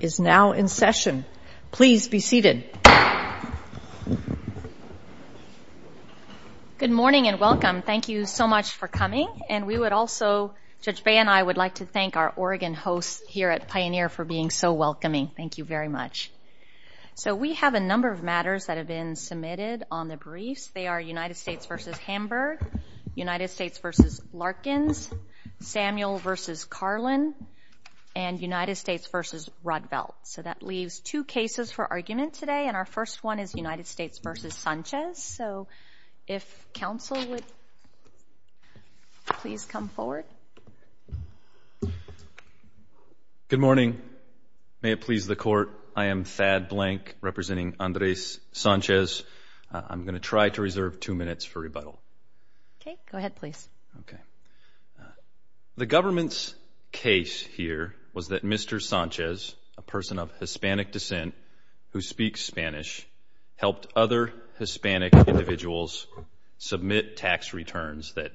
is now in session. Please be seated. Good morning and welcome. Thank you so much for coming. And we would also, Judge Bay and I, would like to thank our Oregon hosts here at Pioneer for being so welcoming. Thank you very much. So we have a number of matters that have been submitted on the briefs. They are United States v. Hamburg, United States v. Larkins, Samuel v. Carlin, and United States v. Ruddvelt. So that leaves two cases for argument today, and our first one is United States v. Sanchez. So if counsel would please come forward. Good morning. May it please the Court, I am Thad Blank representing Andres Sanchez. I'm going to try to reserve two minutes for rebuttal. Okay, go ahead please. The government's case here was that Mr. Sanchez, a person of Hispanic descent who speaks Spanish, helped other Hispanic individuals submit tax returns that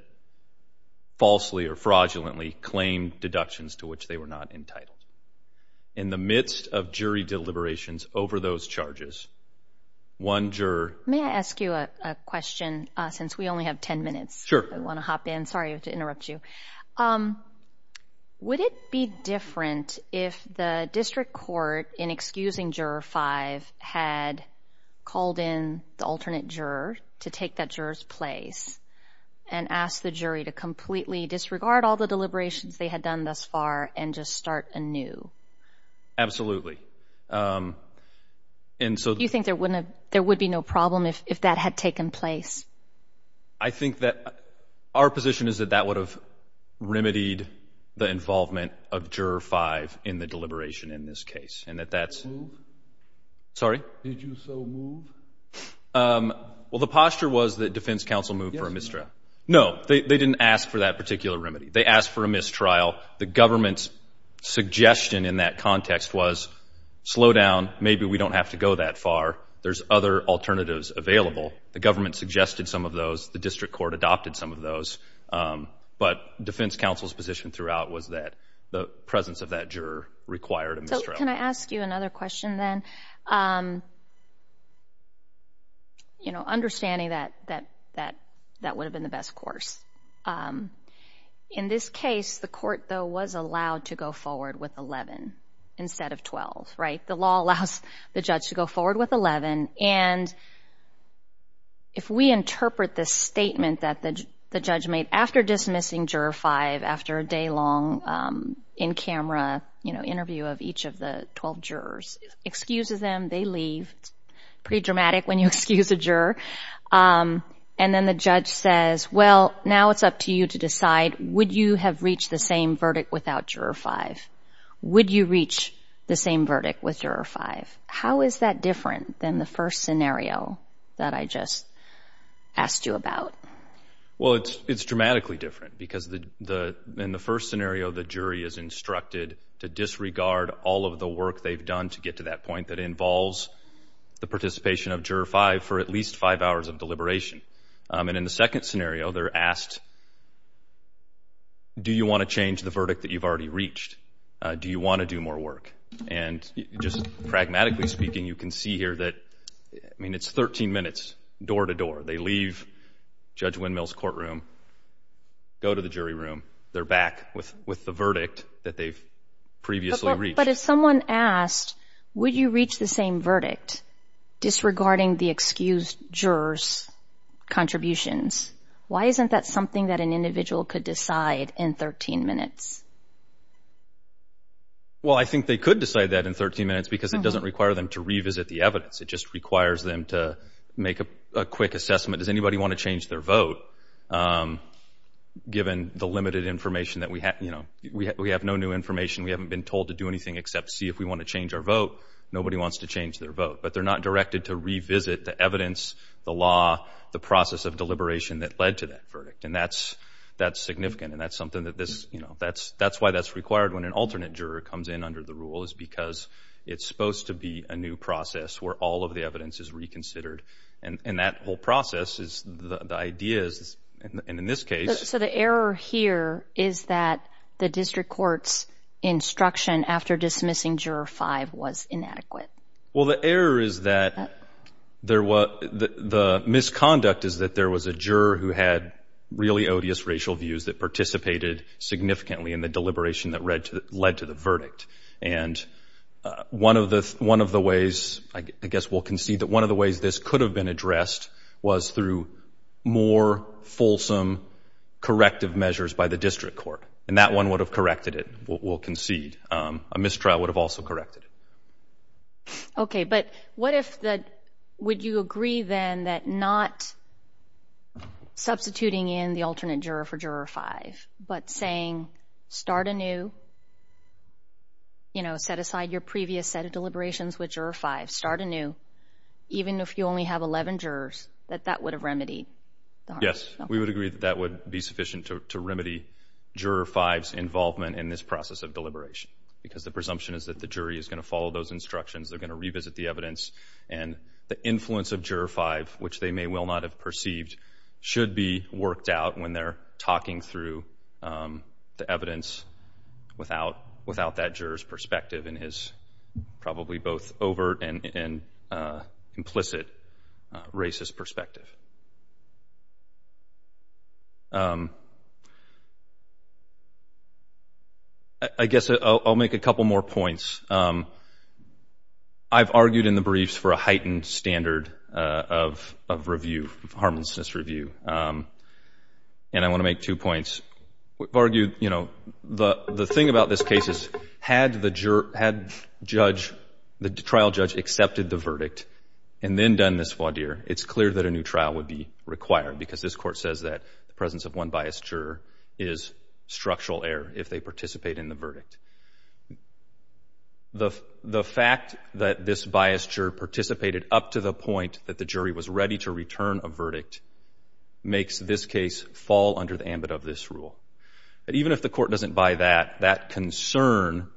falsely or fraudulently claimed deductions to which they were not entitled. In the midst of jury deliberations over those charges, one juror May I ask you a question since we only have 10 minutes? I want to hop in. Sorry to interrupt you. Would it be different if the district court, in excusing Juror 5, had called in the alternate juror to take that juror's place and asked the jury to completely disregard all the deliberations they had done thus far and just start anew? Absolutely. Do you think there would be no problem if that had taken place? I think that our position is that that would have remedied the involvement of Juror 5 in the deliberation in this case and that that's Moved? Sorry? Did you so move? Well, the posture was that defense counsel moved for a mistrial. Yes, moved. Slow down. Maybe we don't have to go that far. There's other alternatives available. The government suggested some of those. The district court adopted some of those. But defense counsel's position throughout was that the presence of that juror required a mistrial. Can I ask you another question then? Understanding that that would have been the best course. In this case, the court, though, was allowed to go forward with 11 instead of 12, right? The law allows the judge to go forward with 11. And if we interpret this statement that the judge made after dismissing Juror 5 after a day-long in-camera interview of each of the 12 jurors, excuse them, they leave. It's pretty dramatic when you excuse a juror. And then the judge says, well, now it's up to you to decide. Would you have reached the same verdict without Juror 5? Would you reach the same verdict with Juror 5? How is that different than the first scenario that I just asked you about? Well, it's dramatically different because in the first scenario, the jury is instructed to disregard all of the work they've done to get to that point that involves the participation of Juror 5 for at least five hours of deliberation. And in the second scenario, they're asked, do you want to change the verdict that you've already reached? Do you want to do more work? And just pragmatically speaking, you can see here that, I mean, it's 13 minutes door-to-door. They leave Judge Windmill's courtroom, go to the jury room, they're back with the verdict that they've previously reached. But if someone asked, would you reach the same verdict disregarding the excused jurors' contributions, why isn't that something that an individual could decide in 13 minutes? Well, I think they could decide that in 13 minutes because it doesn't require them to revisit the evidence. It just requires them to make a quick assessment. Does anybody want to change their vote given the limited information that we have? You know, we have no new information. We haven't been told to do anything except see if we want to change our vote. Nobody wants to change their vote, but they're not directed to revisit the evidence, the law, the process of deliberation that led to that verdict. And that's significant, and that's something that this, you know, that's why that's required when an alternate juror comes in under the rule, is because it's supposed to be a new process where all of the evidence is reconsidered. And that whole process is, the idea is, and in this case... So the error here is that the district court's instruction after dismissing Juror 5 was inadequate. Well, the error is that there was, the misconduct is that there was a juror who had really odious racial views that participated significantly in the deliberation that led to the verdict. And one of the ways, I guess we'll concede that one of the ways this could have been addressed was through more fulsome corrective measures by the district court, and that one would have corrected it, we'll concede. A mistrial would have also corrected it. Okay, but what if the, would you agree then that not substituting in the alternate juror for Juror 5, but saying start anew, you know, set aside your previous set of deliberations with Juror 5, start anew, even if you only have 11 jurors, that that would have remedied the harm? Yes, we would agree that that would be sufficient to remedy Juror 5's involvement in this process of deliberation, because the presumption is that the jury is going to follow those instructions, they're going to revisit the evidence, and the influence of Juror 5, which they may well not have perceived, should be worked out when they're talking through the evidence without that juror's perspective and his probably both overt and implicit racist perspective. I guess I'll make a couple more points. I've argued in the briefs for a heightened standard of review, of harmlessness review, and I want to make two points. I've argued, you know, the thing about this case is had the trial judge accepted the verdict and then done this voir dire, it's clear that a new trial would be required, because this Court says that the presence of one biased juror is structural error if they participate in the verdict. The fact that this biased juror participated up to the point that the jury was ready to return a verdict makes this case fall under the ambit of this rule. But even if the Court doesn't buy that, that concern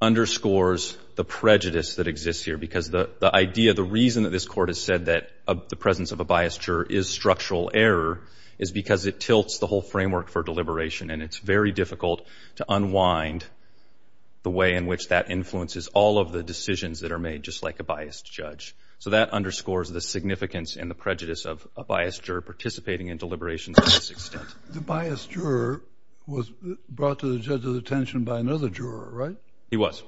underscores the prejudice that exists here, because the idea, the reason that this Court has said that the presence of a biased juror is structural error is because it tilts the whole framework for deliberation, and it's very difficult to unwind the way in which that influences all of the decisions that are made, just like a biased judge. So that underscores the significance and the prejudice of a biased juror participating in deliberations to this extent. The biased juror was brought to the judge's attention by another juror, right? He was.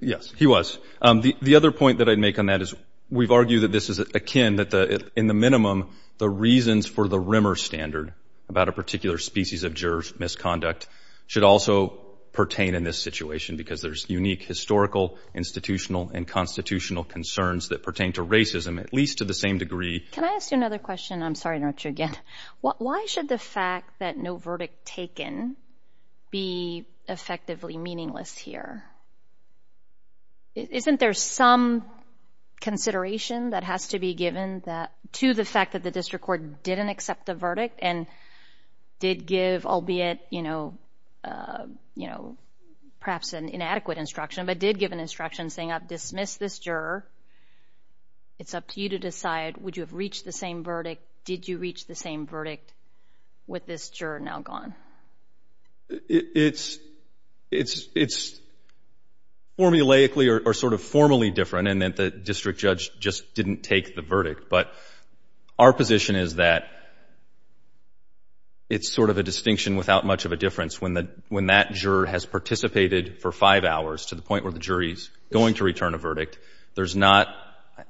Yes, he was. The other point that I'd make on that is we've argued that this is akin, that in the minimum, the reasons for the Rimmer standard about a particular species of juror's misconduct should also pertain in this situation, because there's unique historical, institutional, and constitutional concerns that pertain to racism, at least to the same degree. Can I ask you another question? I'm sorry to interrupt you again. Why should the fact that no verdict taken be effectively meaningless here? Isn't there some consideration that has to be given to the fact that the district court didn't accept the verdict and did give, albeit perhaps an inadequate instruction, but did give an instruction saying, I've dismissed this juror. It's up to you to decide, would you have reached the same verdict? Did you reach the same verdict with this juror now gone? It's formulaically or sort of formally different in that the district judge just didn't take the verdict, but our position is that it's sort of a distinction without much of a difference. When that juror has participated for five hours to the point where the jury is going to return a verdict, there's not,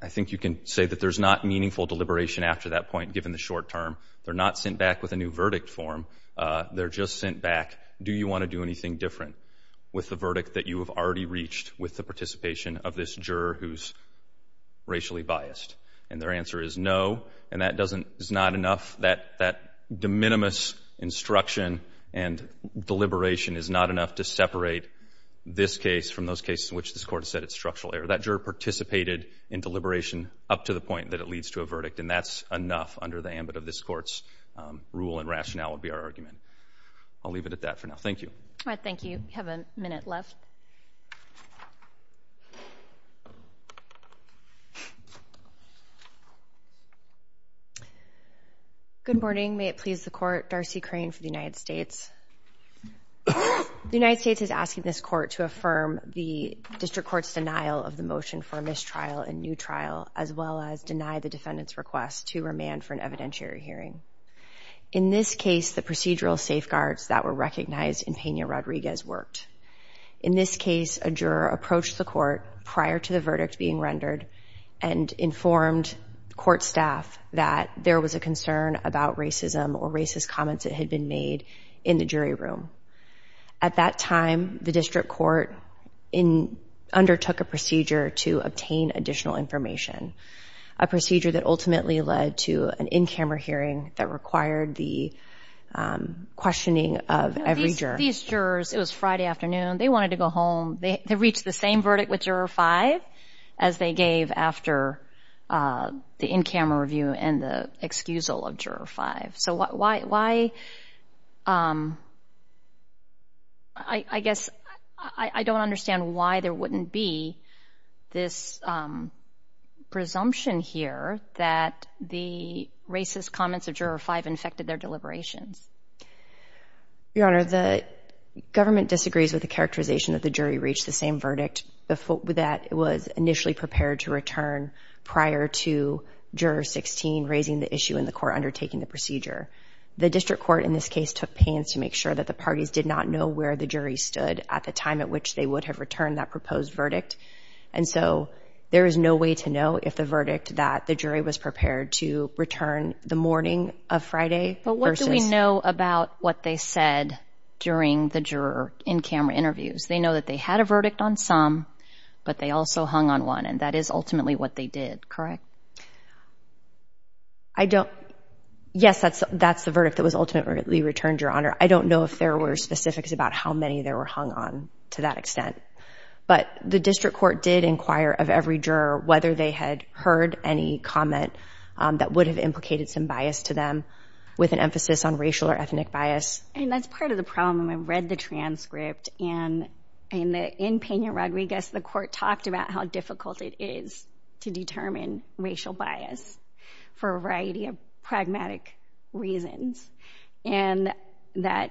I think you can say that there's not meaningful deliberation after that point, given the short term. They're not sent back with a new verdict form. They're just sent back, do you want to do anything different with the verdict that you have already reached with the participation of this juror who's racially biased? And their answer is no, and that is not enough. That de minimis instruction and deliberation is not enough to separate this case from those cases in which this Court has said it's structural error. That juror participated in deliberation up to the point that it leads to a verdict, and that's enough under the ambit of this Court's rule and rationale would be our argument. I'll leave it at that for now. Thank you. All right, thank you. We have a minute left. Good morning. May it please the Court. Darcy Crane for the United States. The United States is asking this Court to affirm the district court's denial of the motion for mistrial and new trial, as well as deny the defendant's request to remand for an evidentiary hearing. In this case, the procedural safeguards that were recognized in Pena-Rodriguez worked. In this case, a juror approached the Court prior to the verdict being rendered and informed Court staff that there was a concern about racism or racist comments that had been made in the jury room. At that time, the district court undertook a procedure to obtain additional information, a procedure that ultimately led to an in-camera hearing that required the questioning of every juror. These jurors, it was Friday afternoon, they wanted to go home. They reached the same verdict with Juror 5 as they gave after the in-camera review and the excusal of Juror 5. So why, I guess, I don't understand why there wouldn't be this presumption here that the racist comments of Juror 5 infected their deliberations. Your Honor, the government disagrees with the characterization that the jury reached the same verdict that was initially prepared to return prior to Juror 16 raising the issue in the court undertaking the procedure. The district court in this case took pains to make sure that the parties did not know where the jury stood at the time at which they would have returned that proposed verdict. And so there is no way to know if the verdict that the jury was prepared to return the morning of Friday versus... But what do we know about what they said during the juror in-camera interviews? They know that they had a verdict on some, but they also hung on one, and that is ultimately what they did, correct? I don't... Yes, that's the verdict that was ultimately returned, Your Honor. I don't know if there were specifics about how many there were hung on to that extent. But the district court did inquire of every juror whether they had heard any comment that would have implicated some bias to them with an emphasis on racial or ethnic bias. And that's part of the problem. I read the transcript, and in Peña-Rodriguez, the court talked about how difficult it is to determine racial bias for a variety of pragmatic reasons, and that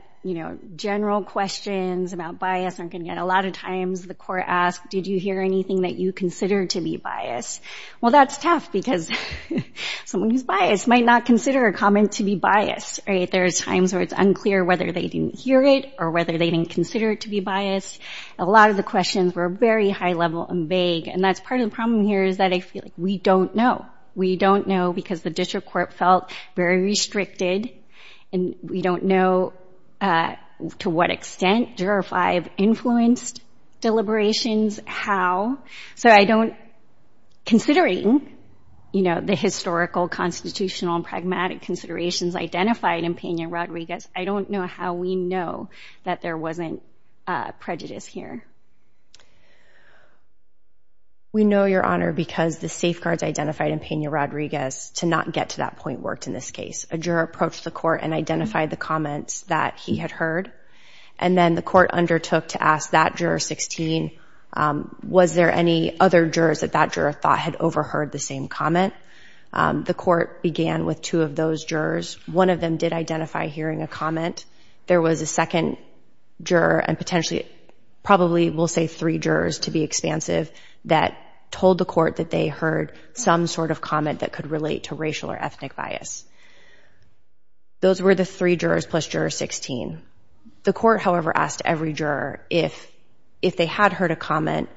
general questions about bias aren't going to get... A lot of times the court asked, did you hear anything that you consider to be bias? Well, that's tough because someone who's biased might not consider a comment to be bias. There are times where it's unclear whether they didn't hear it or whether they didn't consider it to be bias. A lot of the questions were very high-level and vague, and that's part of the problem here is that I feel like we don't know. We don't know because the district court felt very restricted, and we don't know to what extent Juror 5 influenced deliberations, how. So I don't... Considering the historical, constitutional, and pragmatic considerations identified in Peña-Rodriguez, I don't know how we know that there wasn't prejudice here. We know, Your Honor, because the safeguards identified in Peña-Rodriguez to not get to that point worked in this case. A juror approached the court and identified the comments that he had heard, and then the court undertook to ask that Juror 16, was there any other jurors that that juror thought had overheard the same comment? The court began with two of those jurors. One of them did identify hearing a comment. There was a second juror, and potentially probably we'll say three jurors to be expansive, that told the court that they heard some sort of comment that could relate to racial or ethnic bias. Those were the three jurors plus Juror 16. The court, however, asked every juror if they had heard a comment,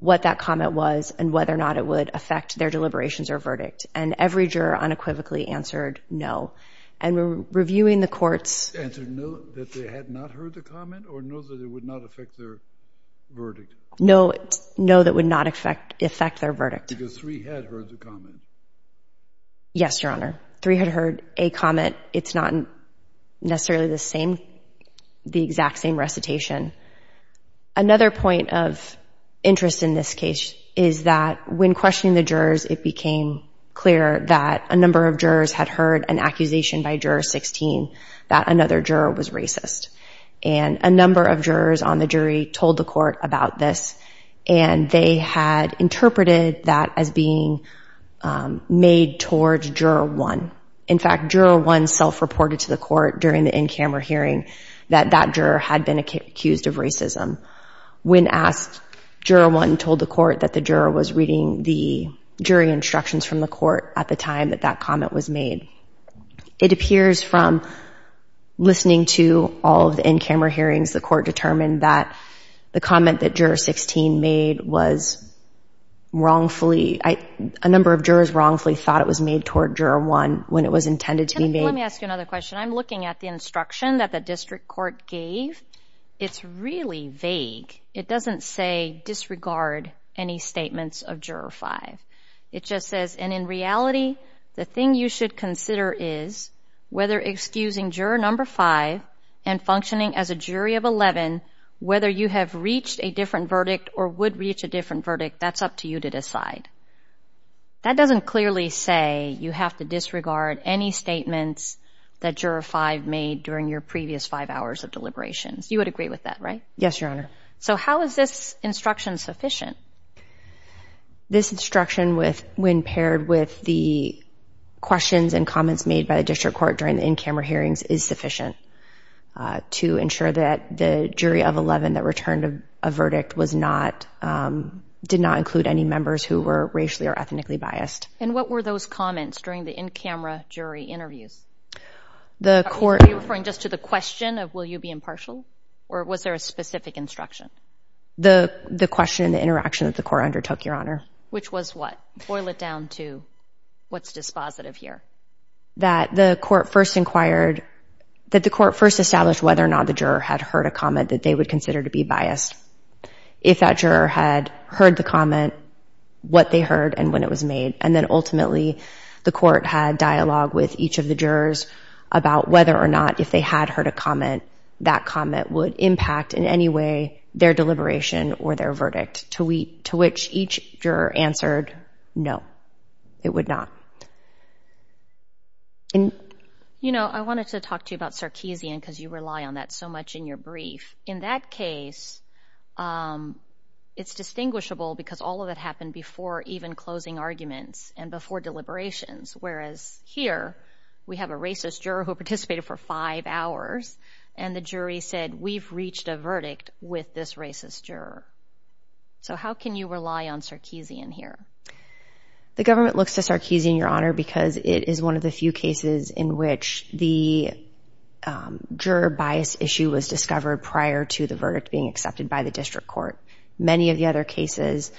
what that comment was, and whether or not it would affect their deliberations or verdict, and every juror unequivocally answered no. And reviewing the courts... Answered no, that they had not heard the comment, or no, that it would not affect their verdict? No, no, that it would not affect their verdict. Because three had heard the comment. Yes, Your Honor. Three had heard a comment. It's not necessarily the same, the exact same recitation. Another point of interest in this case is that when questioning the jurors, it became clear that a number of jurors had heard an accusation by Juror 16 that another juror was racist. And a number of jurors on the jury told the court about this, and they had interpreted that as being made towards Juror 1. In fact, Juror 1 self-reported to the court during the in-camera hearing that that juror had been accused of racism. When asked, Juror 1 told the court that the juror was reading the jury instructions from the court at the time that that comment was made. It appears from listening to all of the in-camera hearings, the court determined that the comment that Juror 16 made was wrongfully, a number of jurors wrongfully thought it was made toward Juror 1 when it was intended to be made. Let me ask you another question. I'm looking at the instruction that the district court gave. It's really vague. It doesn't say disregard any statements of Juror 5. It just says, and in reality, the thing you should consider is whether excusing Juror 5 and functioning as a jury of 11, whether you have reached a different verdict or would reach a different verdict, that's up to you to decide. That doesn't clearly say you have to disregard any statements that Juror 5 made during your previous five hours of deliberations. You would agree with that, right? Yes, Your Honor. So how is this instruction sufficient? This instruction, when paired with the questions and comments made by the district court during the in-camera hearings, is sufficient to ensure that the jury of 11 that returned a verdict did not include any members who were racially or ethnically biased. And what were those comments during the in-camera jury interviews? Are you referring just to the question of will you be impartial, or was there a specific instruction? The question and the interaction that the court undertook, Your Honor. Which was what? Boil it down to what's dispositive here. That the court first inquired, that the court first established whether or not the juror had heard a comment that they would consider to be biased. If that juror had heard the comment, what they heard, and when it was made, and then ultimately the court had dialogue with each of the jurors about whether or not if they had heard a comment, that comment would impact in any way their deliberation or their verdict. To which each juror answered no, it would not. You know, I wanted to talk to you about Sarkeesian because you rely on that so much in your brief. In that case, it's distinguishable because all of it happened before even closing arguments and before deliberations. Whereas here, we have a racist juror who participated for five hours, and the jury said we've reached a verdict with this racist juror. So how can you rely on Sarkeesian here? The government looks to Sarkeesian, Your Honor, because it is one of the few cases in which the juror bias issue was discovered prior to the verdict being accepted by the district court. Many of the other cases,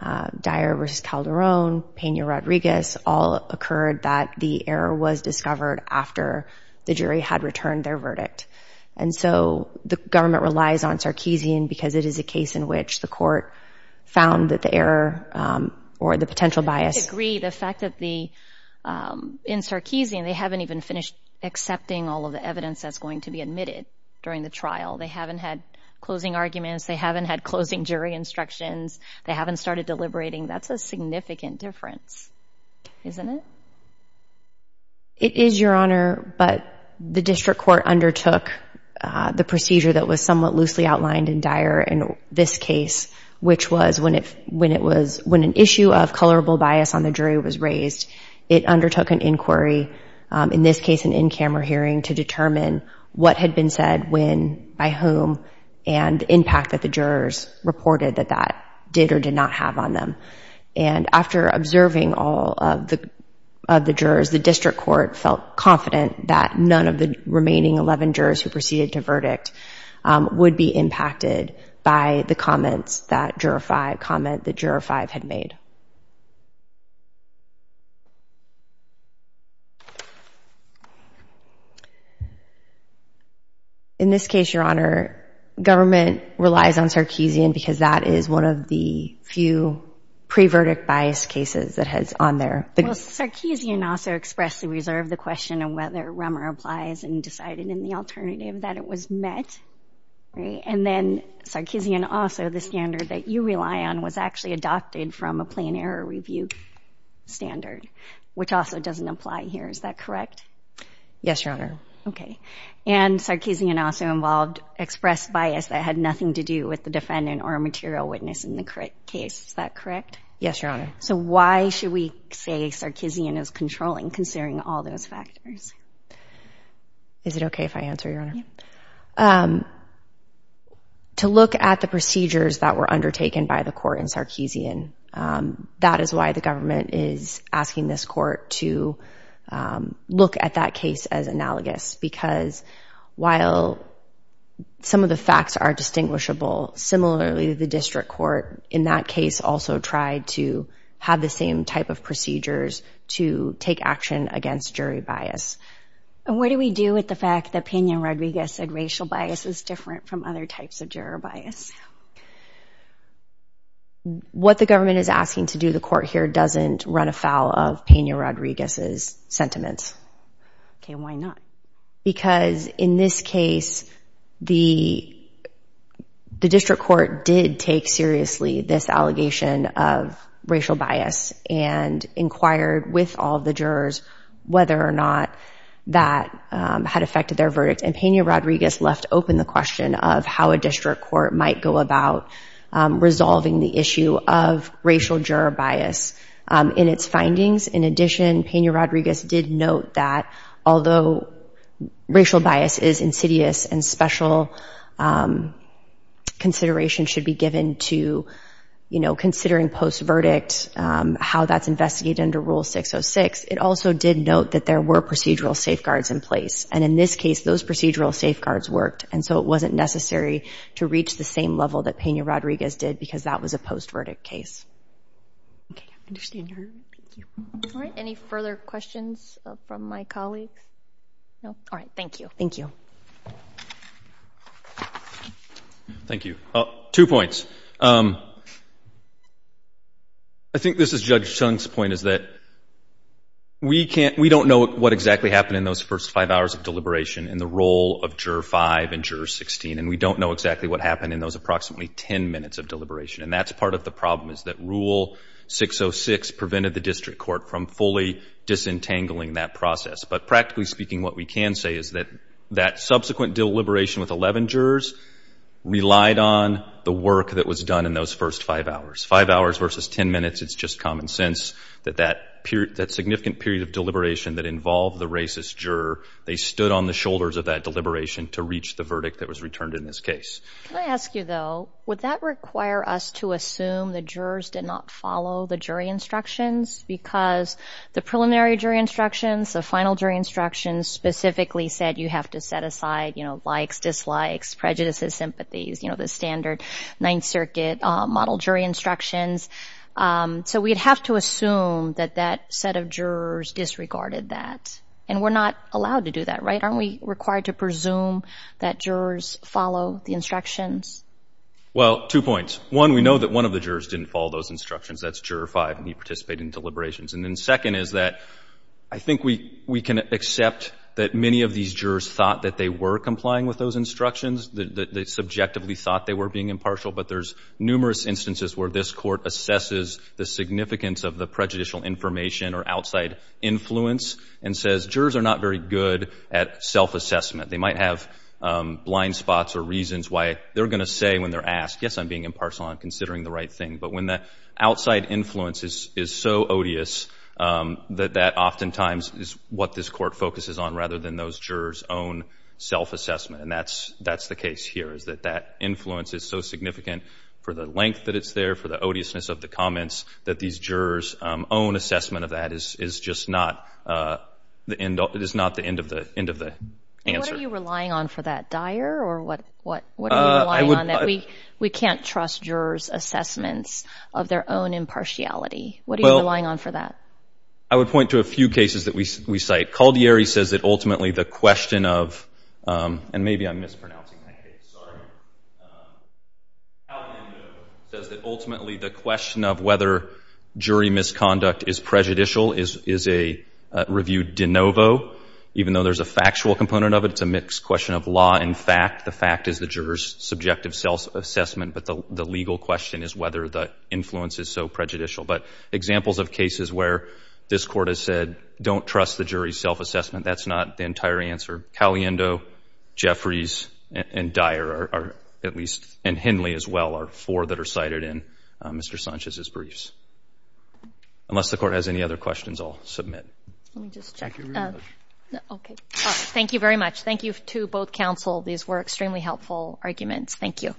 Dyer v. Calderon, Pena-Rodriguez, all occurred that the error was discovered after the jury had returned their verdict. And so the government relies on Sarkeesian because it is a case in which the court found that the error or the potential bias— I agree. The fact that the—in Sarkeesian, they haven't even finished accepting all of the evidence that's going to be admitted during the trial. They haven't had closing arguments. They haven't had closing jury instructions. They haven't started deliberating. That's a significant difference, isn't it? It is, Your Honor, but the district court undertook the procedure that was somewhat loosely outlined in Dyer in this case, which was when an issue of colorable bias on the jury was raised, it undertook an inquiry, in this case an in-camera hearing, to determine what had been said when, by whom, and the impact that the jurors reported that that did or did not have on them. And after observing all of the jurors, the district court felt confident that none of the remaining 11 jurors who proceeded to verdict would be impacted by the comments that juror 5 had made. In this case, Your Honor, government relies on Sarkeesian because that is one of the few pre-verdict bias cases that has on their— Well, Sarkeesian also expressly reserved the question of whether Rummer applies and decided in the alternative that it was met, right? And then Sarkeesian also, the standard that you rely on, was actually adopted from a plain error review standard, which also doesn't apply here. Is that correct? Yes, Your Honor. And Sarkeesian also involved expressed bias that had nothing to do with the defendant or a material witness in the case. Is that correct? Yes, Your Honor. So why should we say Sarkeesian is controlling, considering all those factors? Is it okay if I answer, Your Honor? Yeah. To look at the procedures that were undertaken by the court in Sarkeesian, that is why the government is asking this court to look at that case as analogous because while some of the facts are distinguishable, similarly, the district court in that case also tried to have the same type of procedures to take action against jury bias. And what do we do with the fact that Pena-Rodriguez said racial bias is different from other types of juror bias? What the government is asking to do, the court here doesn't run afoul of Pena-Rodriguez's sentiments. Okay, why not? Because in this case, the district court did take seriously this allegation of racial bias and inquired with all the jurors whether or not that had affected their verdict. And Pena-Rodriguez left open the question of how a district court might go about resolving the issue of racial juror bias. In its findings, in addition, Pena-Rodriguez did note that although racial bias is insidious and special consideration should be given to considering post-verdict, how that's investigated under Rule 606, it also did note that there were procedural safeguards in place. And in this case, those procedural safeguards worked, and so it wasn't necessary to reach the same level that Pena-Rodriguez did because that was a post-verdict case. Okay, I understand. Thank you. All right, any further questions from my colleagues? No? All right, thank you. Thank you. Thank you. Two points. I think this is Judge Chung's point, is that we don't know what exactly happened in those first five hours of deliberation in the role of Juror 5 and Juror 16, and we don't know exactly what happened in those approximately ten minutes of deliberation. And that's part of the problem, is that Rule 606 prevented the district court from fully disentangling that process. But practically speaking, what we can say is that that subsequent deliberation with 11 jurors relied on the work that was done in those first five hours. Five hours versus ten minutes, it's just common sense that that significant period of deliberation that involved the racist juror, they stood on the shoulders of that deliberation to reach the verdict that was returned in this case. Can I ask you, though, would that require us to assume the jurors did not follow the jury instructions because the preliminary jury instructions, the final jury instructions, specifically said you have to set aside, you know, likes, dislikes, prejudices, sympathies, you know, the standard Ninth Circuit model jury instructions. So we'd have to assume that that set of jurors disregarded that. And we're not allowed to do that, right? So aren't we required to presume that jurors follow the instructions? Well, two points. One, we know that one of the jurors didn't follow those instructions. That's Juror 5, and he participated in deliberations. And then second is that I think we can accept that many of these jurors thought that they were complying with those instructions, that they subjectively thought they were being impartial, but there's numerous instances where this court assesses the significance of the prejudicial information or outside influence and says that jurors are not very good at self-assessment. They might have blind spots or reasons why they're going to say when they're asked, yes, I'm being impartial, I'm considering the right thing, but when the outside influence is so odious that that oftentimes is what this court focuses on rather than those jurors' own self-assessment. And that's the case here, is that that influence is so significant for the length that it's there, for the odiousness of the comments, that these jurors' own assessment of that is just not the end of the answer. And what are you relying on for that, Dyer, or what are you relying on? We can't trust jurors' assessments of their own impartiality. What are you relying on for that? I would point to a few cases that we cite. Caldieri says that ultimately the question of, and maybe I'm mispronouncing my case, sorry. Caldiero says that ultimately the question of whether jury misconduct is prejudicial is a review de novo. Even though there's a factual component of it, it's a mixed question of law and fact. The fact is the jurors' subjective self-assessment, but the legal question is whether the influence is so prejudicial. But examples of cases where this court has said, don't trust the jury's self-assessment, that's not the entire answer. Caliendo, Jeffries, and Dyer are at least, and Hindley as well are four that are cited in Mr. Sanchez's briefs. Unless the court has any other questions, I'll submit. Let me just check. Thank you very much. Thank you to both counsel. These were extremely helpful arguments. Thank you.